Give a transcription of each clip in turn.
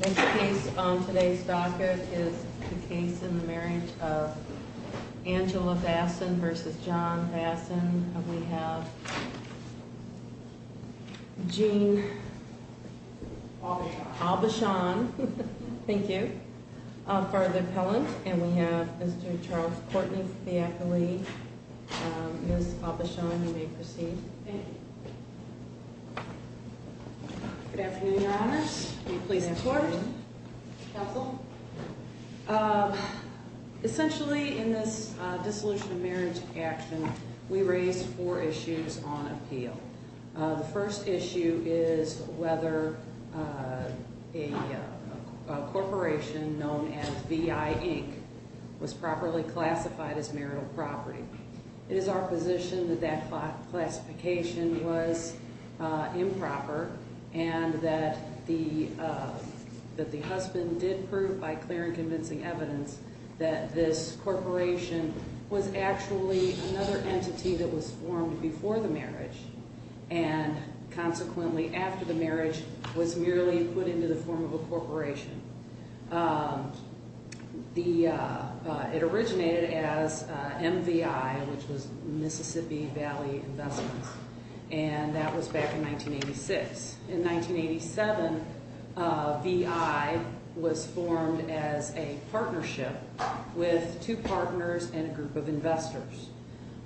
Next case on today's docket is the case in the marriage of Angela Vassen versus John Vassen. We have Jean Albachon, thank you, for the appellant. And we have Mr. Charles Courtney for the accolade. Ms. Albachon, you may proceed. Thank you. Good afternoon, your honors. Will you please report? Counsel? Essentially, in this dissolution of marriage action, we raised four issues on appeal. The first issue is whether a corporation known as VI Inc. was properly classified as marital property. It is our position that that classification was improper and that the husband did prove by clear and convincing evidence that this corporation was actually another entity that was formed before the marriage and consequently after the marriage was merely put into the form of a corporation. It originated as MVI, which was Mississippi Valley Investments, and that was back in 1986. In 1987, VI was formed as a partnership with two partners and a group of investors.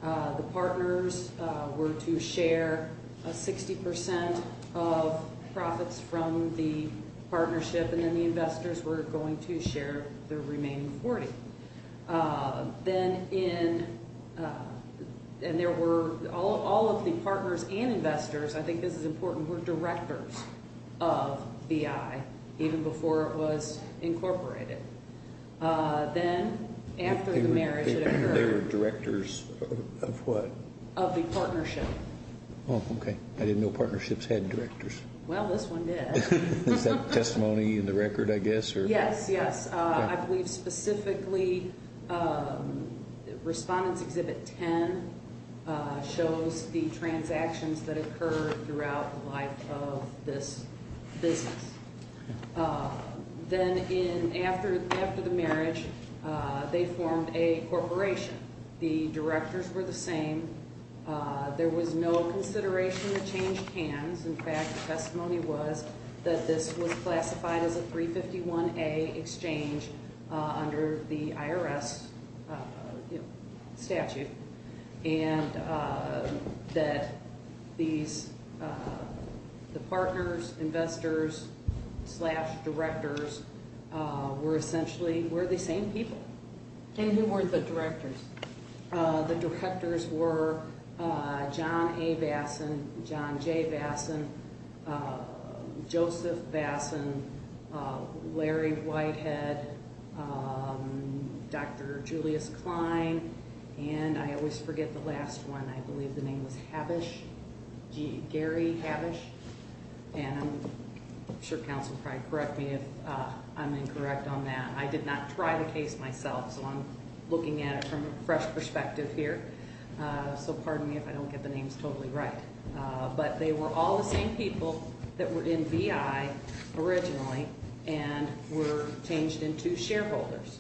The partners were to share 60 percent of profits from the partnership, and then the investors were going to share the remaining 40. And all of the partners and investors, I think this is important, were directors of VI even before it was incorporated. Then, after the marriage had occurred- They were directors of what? Of the partnership. Oh, okay. I didn't know partnerships had directors. Well, this one did. Is that testimony in the record, I guess? Yes, yes. I believe specifically Respondents Exhibit 10 shows the transactions that occurred throughout the life of this business. Then, after the marriage, they formed a corporation. The directors were the same. There was no consideration of changed hands. In fact, the testimony was that this was classified as a 351A exchange under the IRS statute and that the partners, investors, slash directors were essentially the same people. And who were the directors? The directors were John A. Bassin, John J. Bassin, Joseph Bassin, Larry Whitehead, Dr. Julius Klein, and I always forget the last one. I believe the name was Habish, Gary Habish. And I'm sure counsel will probably correct me if I'm incorrect on that. I did not try the case myself, so I'm looking at it from a fresh perspective here. So pardon me if I don't get the names totally right. But they were all the same people that were in VI originally and were changed into shareholders.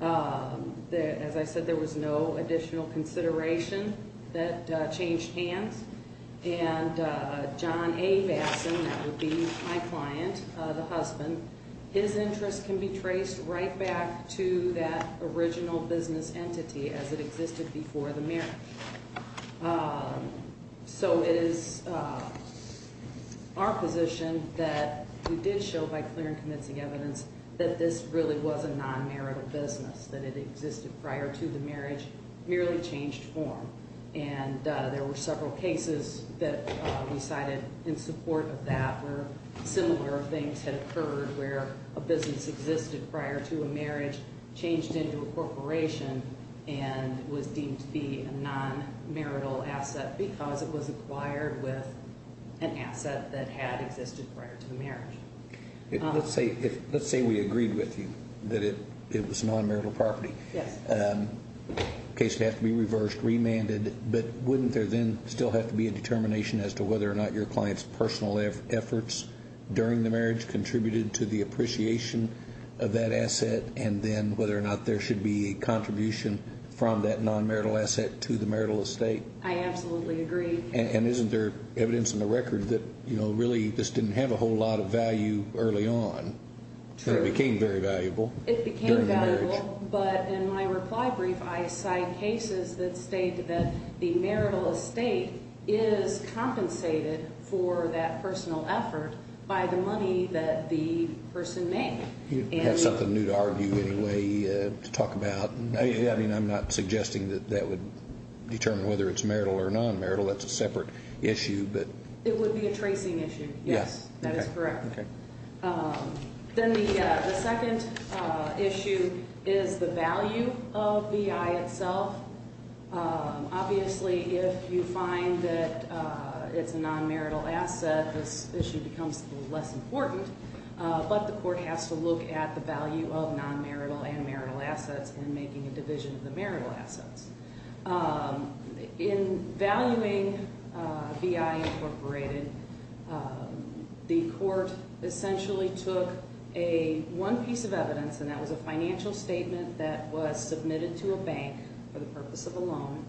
As I said, there was no additional consideration that changed hands. And John A. Bassin, that would be my client, the husband, his interest can be traced right back to that original business entity as it existed before the marriage. So it is our position that we did show by clear and convincing evidence that this really was a non-marital business, that it existed prior to the marriage, merely changed form. And there were several cases that we cited in support of that where similar things had occurred, where a business existed prior to a marriage, changed into a corporation, and was deemed to be a non-marital asset because it was acquired with an asset that had existed prior to the marriage. Let's say we agreed with you that it was non-marital property. Yes. The case would have to be reversed, remanded. But wouldn't there then still have to be a determination as to whether or not your client's personal efforts during the marriage contributed to the appreciation of that asset, and then whether or not there should be a contribution from that non-marital asset to the marital estate? I absolutely agree. And isn't there evidence in the record that really this didn't have a whole lot of value early on? Sure. It became very valuable during the marriage. But in my reply brief, I cite cases that state that the marital estate is compensated for that personal effort by the money that the person made. You have something new to argue anyway to talk about? I mean, I'm not suggesting that that would determine whether it's marital or non-marital. That's a separate issue. It would be a tracing issue. Yes. That is correct. Okay. Then the second issue is the value of VI itself. Obviously, if you find that it's a non-marital asset, this issue becomes less important. But the court has to look at the value of non-marital and marital assets in making a division of the marital assets. In valuing VI incorporated, the court essentially took one piece of evidence, and that was a financial statement that was submitted to a bank for the purpose of a loan,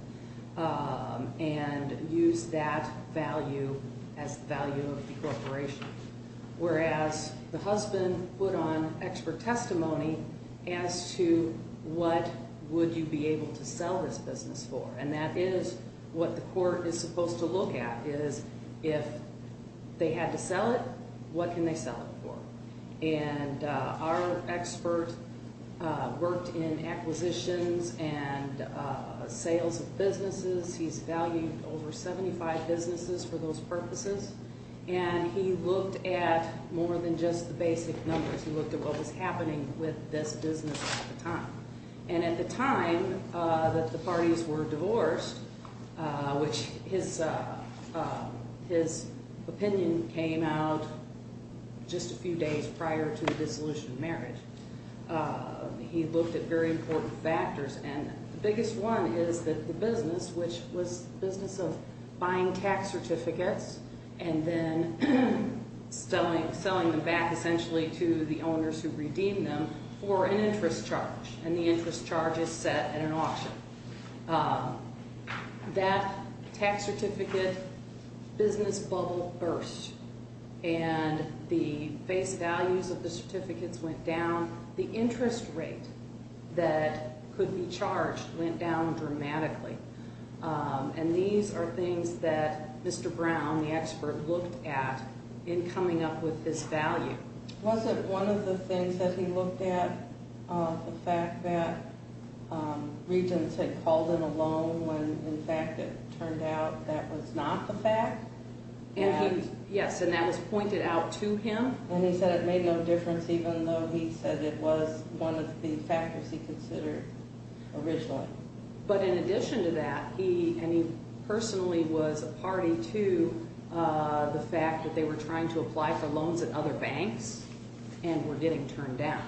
and used that value as the value of the corporation, whereas the husband put on expert testimony as to what would you be able to sell this business for. And that is what the court is supposed to look at, is if they had to sell it, what can they sell it for? And our expert worked in acquisitions and sales of businesses. He's valued over 75 businesses for those purposes. And he looked at more than just the basic numbers. He looked at what was happening with this business at the time. And at the time that the parties were divorced, which his opinion came out just a few days prior to the dissolution of marriage, he looked at very important factors. And the biggest one is that the business, which was the business of buying tax certificates and then selling them back essentially to the owners who redeemed them for an interest charge. And the interest charge is set at an auction. That tax certificate business bubble burst, and the base values of the certificates went down. The interest rate that could be charged went down dramatically. And these are things that Mr. Brown, the expert, looked at in coming up with this value. Was it one of the things that he looked at, the fact that regents had called in a loan when in fact it turned out that was not the fact? Yes, and that was pointed out to him. And he said it made no difference even though he said it was one of the factors he considered originally. But in addition to that, he personally was a party to the fact that they were trying to apply for loans at other banks and were getting turned down.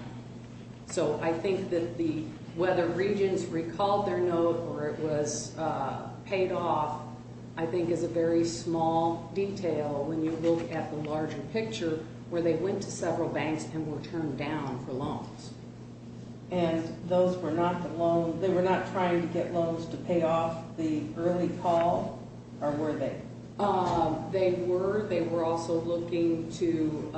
So I think that whether regents recalled their note or it was paid off I think is a very small detail when you look at the larger picture where they went to several banks and were turned down for loans. And they were not trying to get loans to pay off the early call, or were they? They were. They were also looking to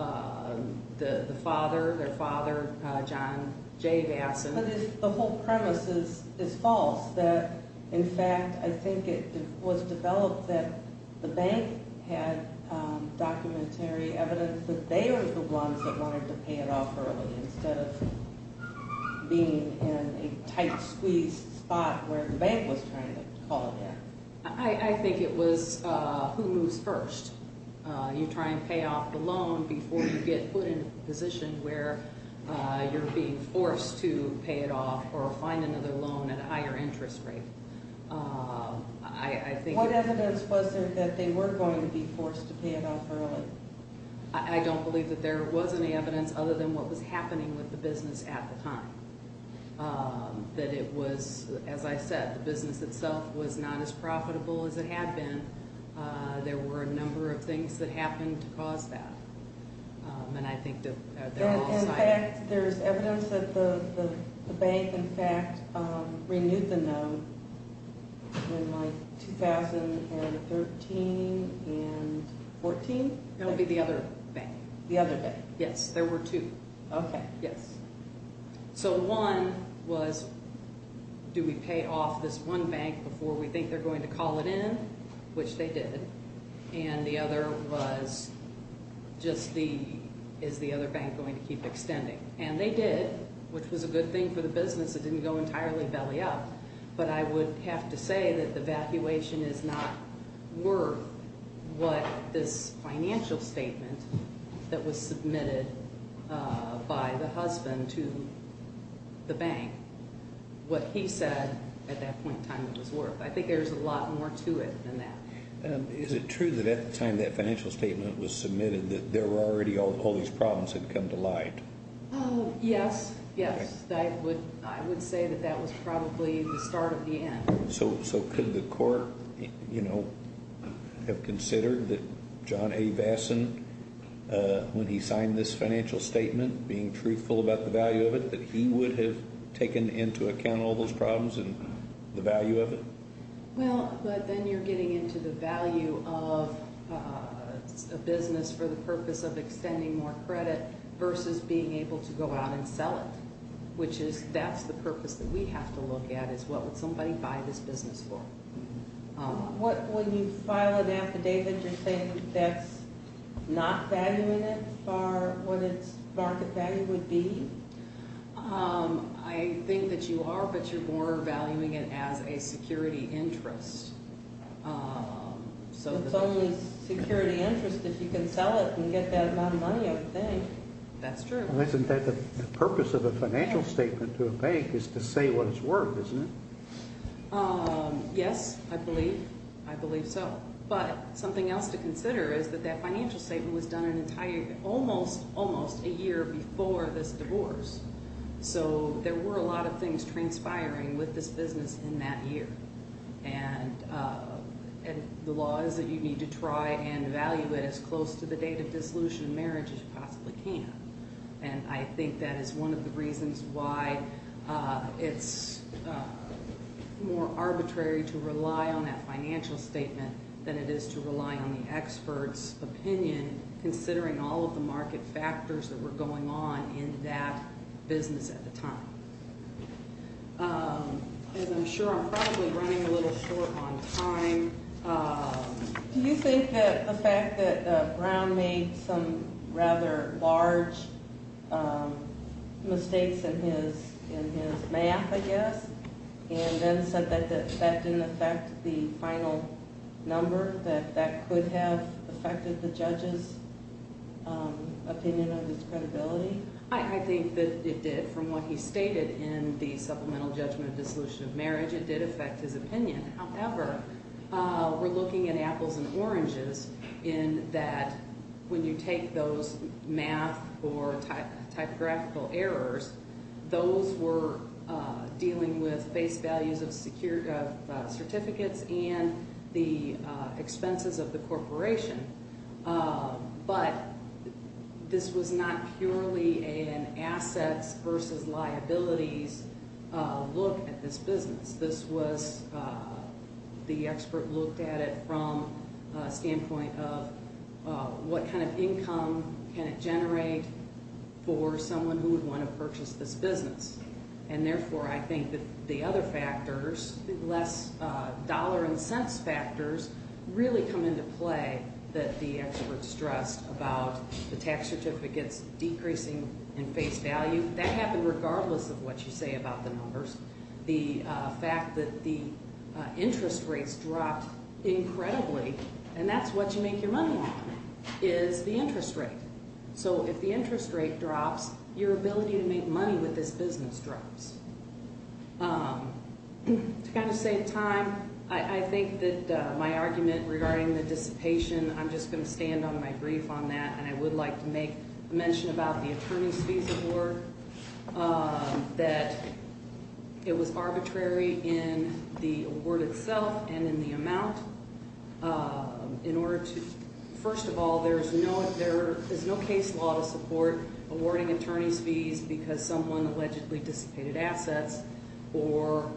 the father, their father, John J. Vasson. But the whole premise is false, that in fact I think it was developed that the bank had documentary evidence that they were the ones that wanted to pay it off early instead of being in a tight, squeezed spot where the bank was trying to call it in. I think it was who moves first. You try and pay off the loan before you get put in a position where you're being forced to pay it off or find another loan at a higher interest rate. What evidence was there that they were going to be forced to pay it off early? I don't believe that there was any evidence other than what was happening with the business at the time. That it was, as I said, the business itself was not as profitable as it had been. There were a number of things that happened to cause that. And I think that they're all cited. In fact, there's evidence that the bank, in fact, renewed the loan in like 2013 and 14? That would be the other bank. The other bank. Yes, there were two. Okay. Yes. So one was, do we pay off this one bank before we think they're going to call it in? Which they did. And the other was just the, is the other bank going to keep extending? And they did, which was a good thing for the business. It didn't go entirely belly up. But I would have to say that the evacuation is not worth what this financial statement that was submitted by the husband to the bank, what he said at that point in time it was worth. I think there's a lot more to it than that. Is it true that at the time that financial statement was submitted that there were already all these problems had come to light? Yes. Yes. I would say that that was probably the start of the end. So could the court, you know, have considered that John A. Vassen, when he signed this financial statement, being truthful about the value of it, that he would have taken into account all those problems and the value of it? Well, but then you're getting into the value of a business for the purpose of extending more credit versus being able to go out and sell it. Which is, that's the purpose that we have to look at, is what would somebody buy this business for? What, when you file an affidavit, you're saying that's not valuing it for what its market value would be? I think that you are, but you're more valuing it as a security interest. So it's only security interest if you can sell it and get that amount of money out of the bank. That's true. Isn't that the purpose of a financial statement to a bank is to say what it's worth, isn't it? Yes, I believe so. But something else to consider is that that financial statement was done almost a year before this divorce. So there were a lot of things transpiring with this business in that year. And the law is that you need to try and value it as close to the date of dissolution of marriage as you possibly can. And I think that is one of the reasons why it's more arbitrary to rely on that financial statement than it is to rely on the expert's opinion, considering all of the market factors that were going on in that business at the time. And I'm sure I'm probably running a little short on time. Do you think that the fact that Brown made some rather large mistakes in his math, I guess, and then said that that didn't affect the final number, that that could have affected the judge's opinion of his credibility? I think that it did. From what he stated in the supplemental judgment of dissolution of marriage, it did affect his opinion. However, we're looking at apples and oranges in that when you take those math or typographical errors, those were dealing with base values of certificates and the expenses of the corporation. But this was not purely an assets versus liabilities look at this business. This was the expert looked at it from a standpoint of what kind of income can it generate for someone who would want to purchase this business. And therefore, I think that the other factors, less dollar and cents factors, really come into play that the expert stressed about the tax certificates decreasing in face value. That happened regardless of what you say about the numbers. The fact that the interest rates dropped incredibly, and that's what you make your money on, is the interest rate. So if the interest rate drops, your ability to make money with this business drops. To kind of save time, I think that my argument regarding the dissipation, I'm just going to stand on my grief on that. And I would like to make mention about the attorney's fees award, that it was arbitrary in the award itself and in the amount. In order to, first of all, there is no case law to support awarding attorney's fees because someone allegedly dissipated assets. Or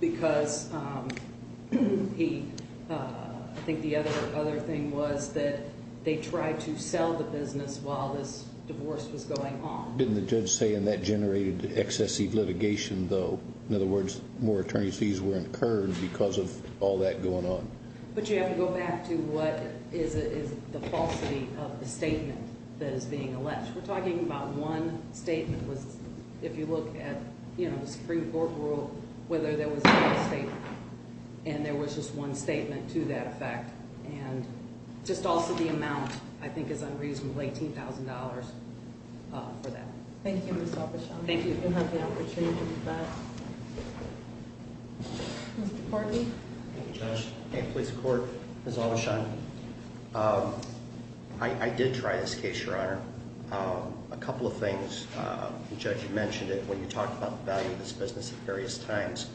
because I think the other thing was that they tried to sell the business while this divorce was going on. Didn't the judge say and that generated excessive litigation though? In other words, more attorney's fees were incurred because of all that going on. But you have to go back to what is the falsity of the statement that is being alleged. We're talking about one statement. If you look at the Supreme Court rule, whether there was a false statement. And there was just one statement to that effect. And just also the amount, I think, is unreasonably $18,000 for that. Thank you, Ms. Aubuchon. Thank you. We'll have the opportunity to do that. Mr. Courtney. Thank you, Judge. Hey, police court. Ms. Aubuchon. I did try this case, Your Honor. A couple of things. The judge had mentioned it when you talked about the value of this business at various times.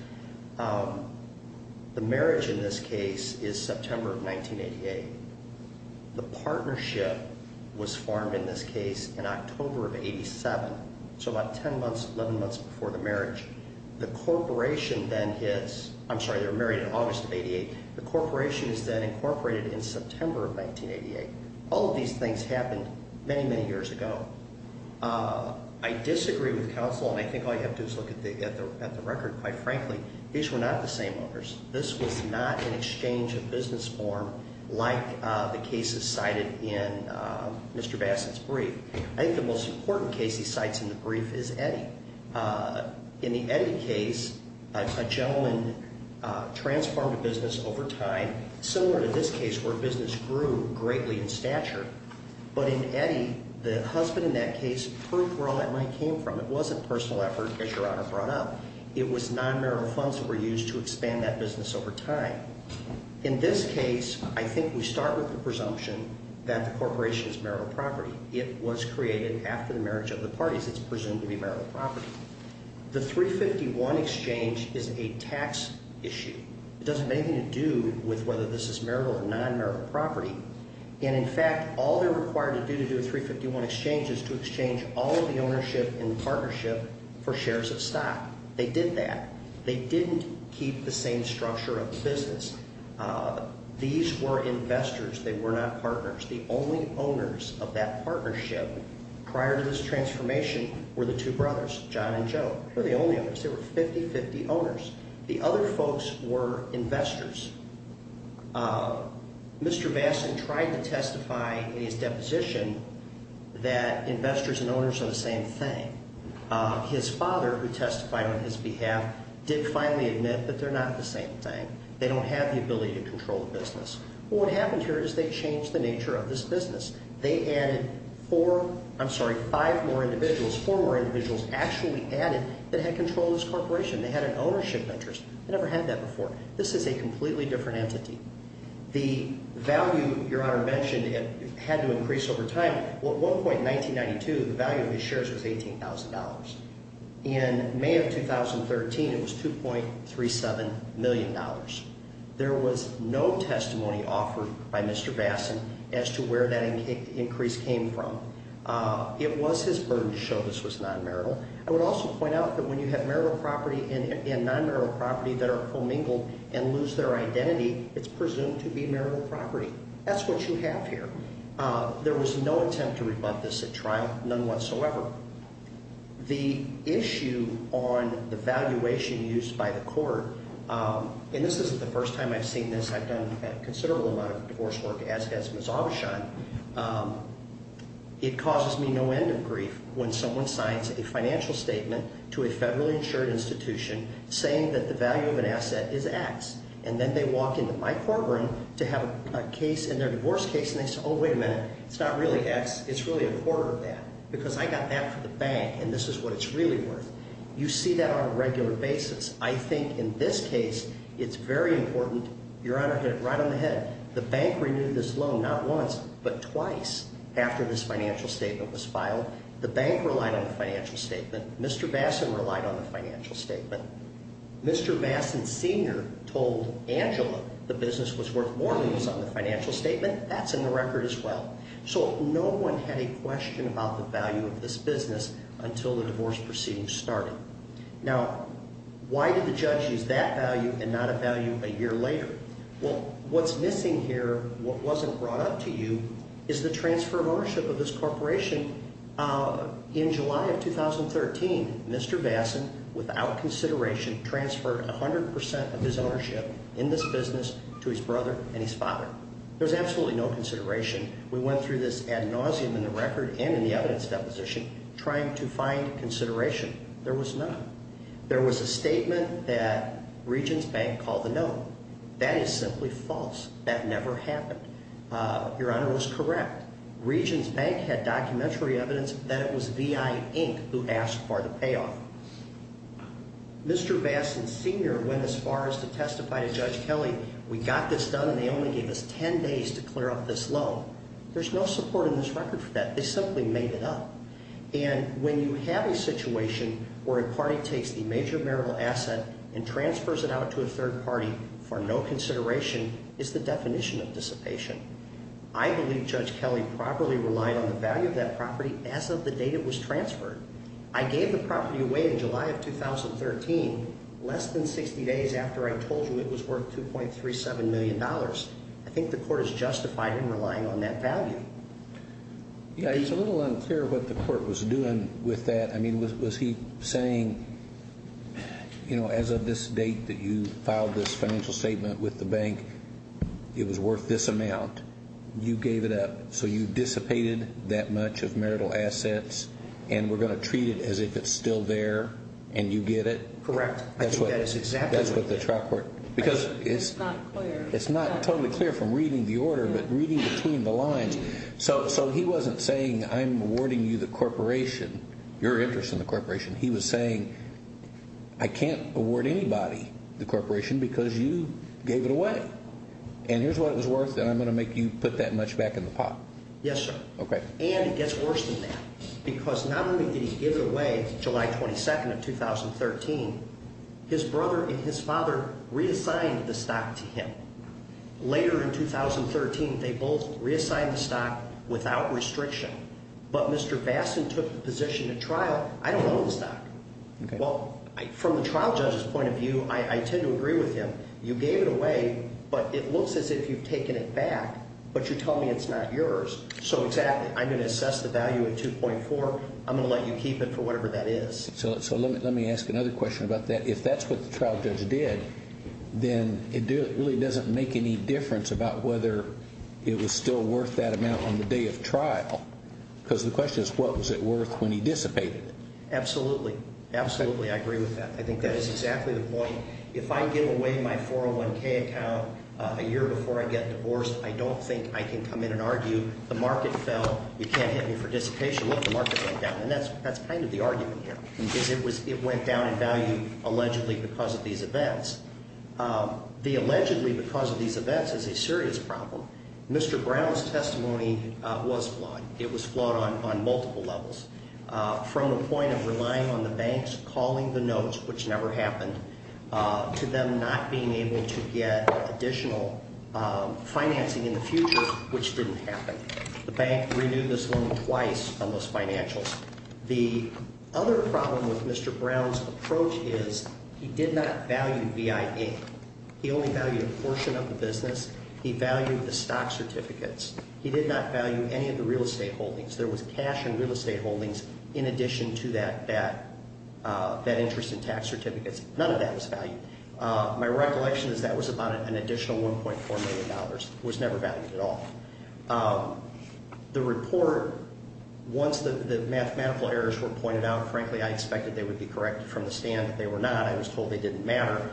The marriage in this case is September of 1988. The partnership was formed in this case in October of 87. So about 10 months, 11 months before the marriage. The corporation then hits. I'm sorry, they were married in August of 88. The corporation is then incorporated in September of 1988. All of these things happened many, many years ago. I disagree with counsel. And I think all you have to do is look at the record, quite frankly. These were not the same owners. This was not an exchange of business form like the cases cited in Mr. Bassett's brief. I think the most important case he cites in the brief is Eddie. In the Eddie case, a gentleman transformed a business over time, similar to this case where business grew greatly in stature. But in Eddie, the husband in that case proved where all that money came from. It wasn't personal effort, as Your Honor brought up. It was non-marital funds that were used to expand that business over time. In this case, I think we start with the presumption that the corporation is marital property. It was created after the marriage of the parties. It's presumed to be marital property. The 351 exchange is a tax issue. It doesn't have anything to do with whether this is marital or non-marital property. And, in fact, all they're required to do to do a 351 exchange is to exchange all of the ownership and partnership for shares of stock. They did that. They didn't keep the same structure of the business. These were investors. They were not partners. The only owners of that partnership prior to this transformation were the two brothers, John and Joe. They were the only owners. There were 50-50 owners. The other folks were investors. Mr. Vassen tried to testify in his deposition that investors and owners are the same thing. His father, who testified on his behalf, did finally admit that they're not the same thing. They don't have the ability to control the business. Well, what happened here is they changed the nature of this business. They added four, I'm sorry, five more individuals, four more individuals actually added that had control of this corporation. They had an ownership interest. They never had that before. This is a completely different entity. The value, Your Honor mentioned, had to increase over time. At one point in 1992, the value of these shares was $18,000. In May of 2013, it was $2.37 million. There was no testimony offered by Mr. Vassen as to where that increase came from. It was his burden to show this was non-marital. I would also point out that when you have marital property and non-marital property that are fulmingled and lose their identity, it's presumed to be marital property. That's what you have here. There was no attempt to rebut this at trial, none whatsoever. The issue on the valuation used by the court, and this isn't the first time I've seen this. I've done a considerable amount of divorce work, as has Ms. Aubuchon. It causes me no end of grief when someone signs a financial statement to a federally insured institution saying that the value of an asset is X. And then they walk into my courtroom to have a case in their divorce case, and they say, oh, wait a minute. It's not really X. It's really a quarter of that because I got that for the bank, and this is what it's really worth. You see that on a regular basis. I think in this case, it's very important. Your Honor, hit it right on the head. The bank renewed this loan not once but twice after this financial statement was filed. The bank relied on the financial statement. Mr. Vassen relied on the financial statement. Mr. Vassen Sr. told Angela the business was worth more than it was on the financial statement. That's in the record as well. So no one had a question about the value of this business until the divorce proceedings started. Now, why did the judge use that value and not a value a year later? Well, what's missing here, what wasn't brought up to you, is the transfer of ownership of this corporation. In July of 2013, Mr. Vassen, without consideration, transferred 100% of his ownership in this business to his brother and his father. There's absolutely no consideration. We went through this ad nauseum in the record and in the evidence deposition trying to find consideration. There was none. There was a statement that Regions Bank called a no. That is simply false. That never happened. Your Honor was correct. Regions Bank had documentary evidence that it was VI, Inc. who asked for the payoff. Mr. Vassen Sr. went as far as to testify to Judge Kelly. We got this done and they only gave us 10 days to clear up this loan. There's no support in this record for that. They simply made it up. And when you have a situation where a party takes the major marital asset and transfers it out to a third party for no consideration, it's the definition of dissipation. I believe Judge Kelly properly relied on the value of that property as of the date it was transferred. I gave the property away in July of 2013, less than 60 days after I told you it was worth $2.37 million. I think the court has justified in relying on that value. Yeah, he's a little unclear what the court was doing with that. I mean, was he saying, you know, as of this date that you filed this financial statement with the bank, it was worth this amount. You gave it up. So you dissipated that much of marital assets and we're going to treat it as if it's still there and you get it? Correct. That's what the trial court, because it's not totally clear from reading the order, but reading between the lines. So he wasn't saying, I'm awarding you the corporation, your interest in the corporation. He was saying, I can't award anybody the corporation because you gave it away. And here's what it was worth, and I'm going to make you put that much back in the pot. Yes, sir. And it gets worse than that because not only did he give it away July 22nd of 2013, his brother and his father reassigned the stock to him. Later in 2013, they both reassigned the stock without restriction. But Mr. Bastin took the position at trial, I don't own the stock. Well, from the trial judge's point of view, I tend to agree with him. You gave it away, but it looks as if you've taken it back, but you tell me it's not yours. So exactly, I'm going to assess the value at 2.4, I'm going to let you keep it for whatever that is. So let me ask another question about that. If that's what the trial judge did, then it really doesn't make any difference about whether it was still worth that amount on the day of trial. Because the question is, what was it worth when he dissipated it? Absolutely. Absolutely, I agree with that. I think that is exactly the point. If I give away my 401k account a year before I get divorced, I don't think I can come in and argue the market fell, you can't hit me for dissipation, look, the market went down. And that's kind of the argument here. It went down in value allegedly because of these events. The allegedly because of these events is a serious problem. Mr. Brown's testimony was flawed. It was flawed on multiple levels. From the point of relying on the banks calling the notes, which never happened, to them not being able to get additional financing in the future, which didn't happen. The bank renewed this loan twice on those financials. The other problem with Mr. Brown's approach is he did not value VIA. He only valued a portion of the business. He valued the stock certificates. He did not value any of the real estate holdings. There was cash in real estate holdings in addition to that interest in tax certificates. None of that was valued. My recollection is that was about an additional $1.4 million. It was never valued at all. The report, once the mathematical errors were pointed out, frankly, I expected they would be corrected from the stand. They were not. I was told they didn't matter.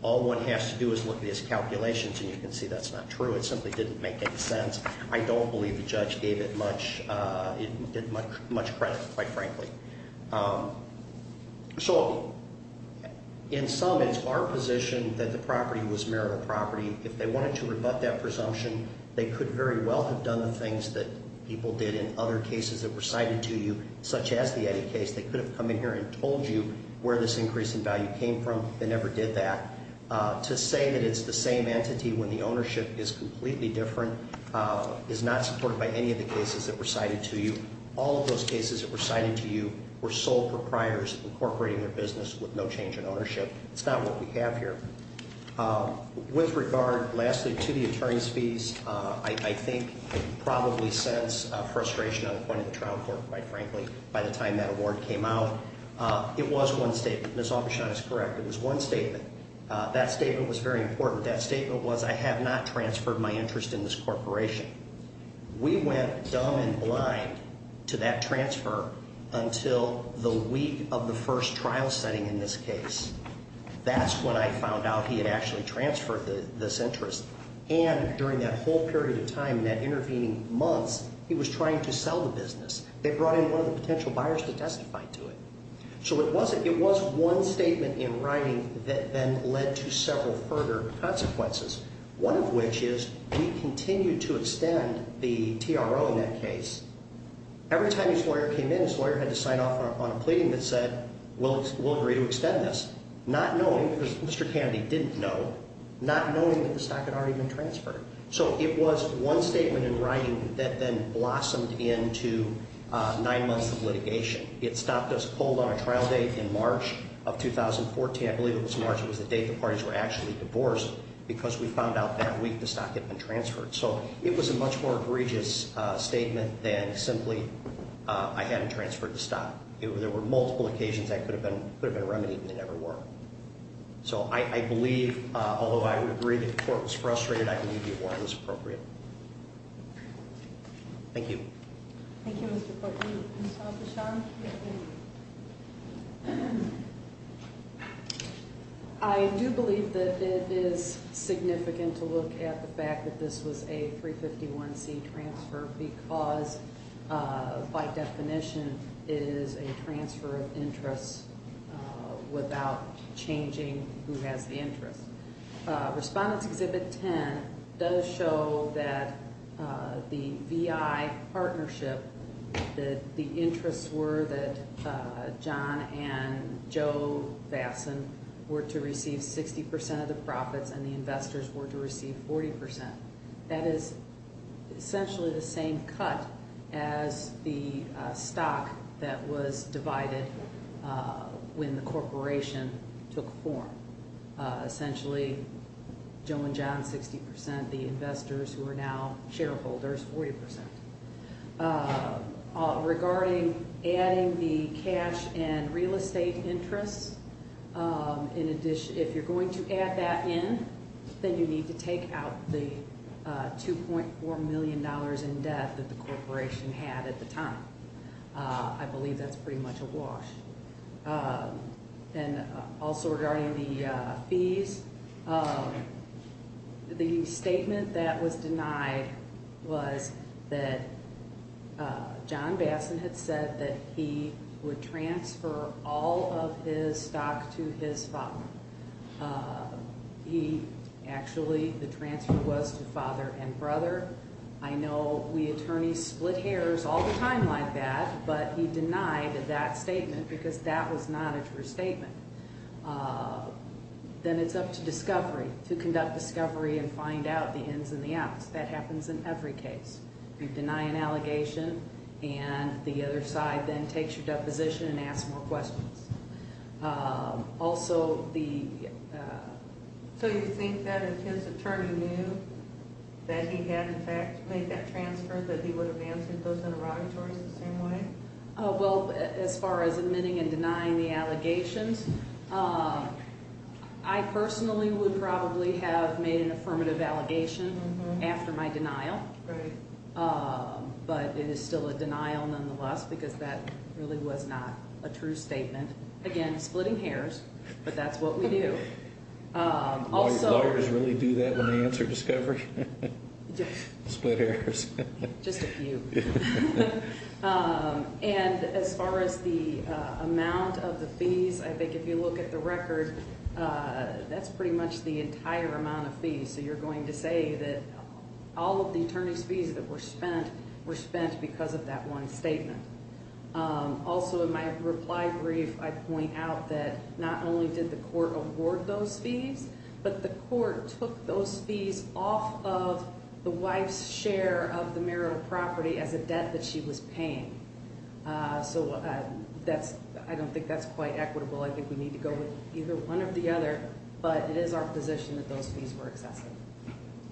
All one has to do is look at his calculations, and you can see that's not true. It simply didn't make any sense. I don't believe the judge gave it much credit, quite frankly. So in sum, it's our position that the property was marital property. If they wanted to rebut that presumption, they could very well have done the things that people did in other cases that were cited to you, such as the Eddy case. They could have come in here and told you where this increase in value came from. They never did that. To say that it's the same entity when the ownership is completely different is not supported by any of the cases that were cited to you. All of those cases that were cited to you were sole proprietors incorporating their business with no change in ownership. It's not what we have here. With regard, lastly, to the attorney's fees, I think you probably sense frustration on the point of the trial court, quite frankly, by the time that award came out. It was one statement. I think Ms. Aufgesund is correct. It was one statement. That statement was very important. That statement was, I have not transferred my interest in this corporation. We went dumb and blind to that transfer until the week of the first trial setting in this case. That's when I found out he had actually transferred this interest. And during that whole period of time, in that intervening months, he was trying to sell the business. They brought in one of the potential buyers to testify to it. So it was one statement in writing that then led to several further consequences, one of which is we continued to extend the TRO in that case. Every time his lawyer came in, his lawyer had to sign off on a pleading that said we'll agree to extend this, not knowing, because Mr. Candy didn't know, not knowing that the stock had already been transferred. So it was one statement in writing that then blossomed into nine months of litigation. It stopped us cold on a trial date in March of 2014. I believe it was March. It was the date the parties were actually divorced because we found out that week the stock had been transferred. So it was a much more egregious statement than simply I hadn't transferred the stock. There were multiple occasions that could have been remedied, and they never were. So I believe, although I would agree that the court was frustrated, I believe the award was appropriate. Thank you. Thank you, Mr. Courtney. Ms. Al-Bashar? I do believe that it is significant to look at the fact that this was a 351C transfer because, by definition, it is a transfer of interest without changing who has the interest. Respondents Exhibit 10 does show that the VI partnership, that the interests were that John and Joe Basson were to receive 60% of the profits and the investors were to receive 40%. That is essentially the same cut as the stock that was divided when the corporation took form. Essentially, Joe and John, 60%, the investors who are now shareholders, 40%. Regarding adding the cash and real estate interests, if you're going to add that in, then you need to take out the $2.4 million in debt that the corporation had at the time. I believe that's pretty much a wash. Also, regarding the fees, the statement that was denied was that John Basson had said that he would transfer all of his stock to his father. Actually, the transfer was to father and brother. I know we attorneys split hairs all the time like that, but he denied that statement because that was not a true statement. Then it's up to discovery, to conduct discovery and find out the ins and the outs. That happens in every case. You deny an allegation and the other side then takes your deposition and asks more questions. Do you think that if his attorney knew that he had in fact made that transfer that he would have answered those interrogatories the same way? As far as admitting and denying the allegations, I personally would probably have made an affirmative allegation after my denial. But it is still a denial nonetheless because that really was not a true statement. Again, splitting hairs, but that's what we do. Do lawyers really do that when they answer discovery? Split hairs. Just a few. As far as the amount of the fees, I think if you look at the record, that's pretty much the entire amount of fees. You're going to say that all of the attorney's fees that were spent were spent because of that one statement. Also in my reply brief, I point out that not only did the court award those fees, but the court took those fees off of the wife's share of the marital property as a debt that she was paying. I don't think that's quite equitable. I think we need to go with either one or the other, but it is our position that those fees were excessive.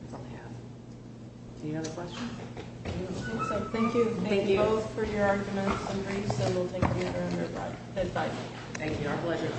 That's all I have. Any other questions? Thank you both for your arguments and briefs, and we'll take the other end of our time. Thank you. Our pleasure.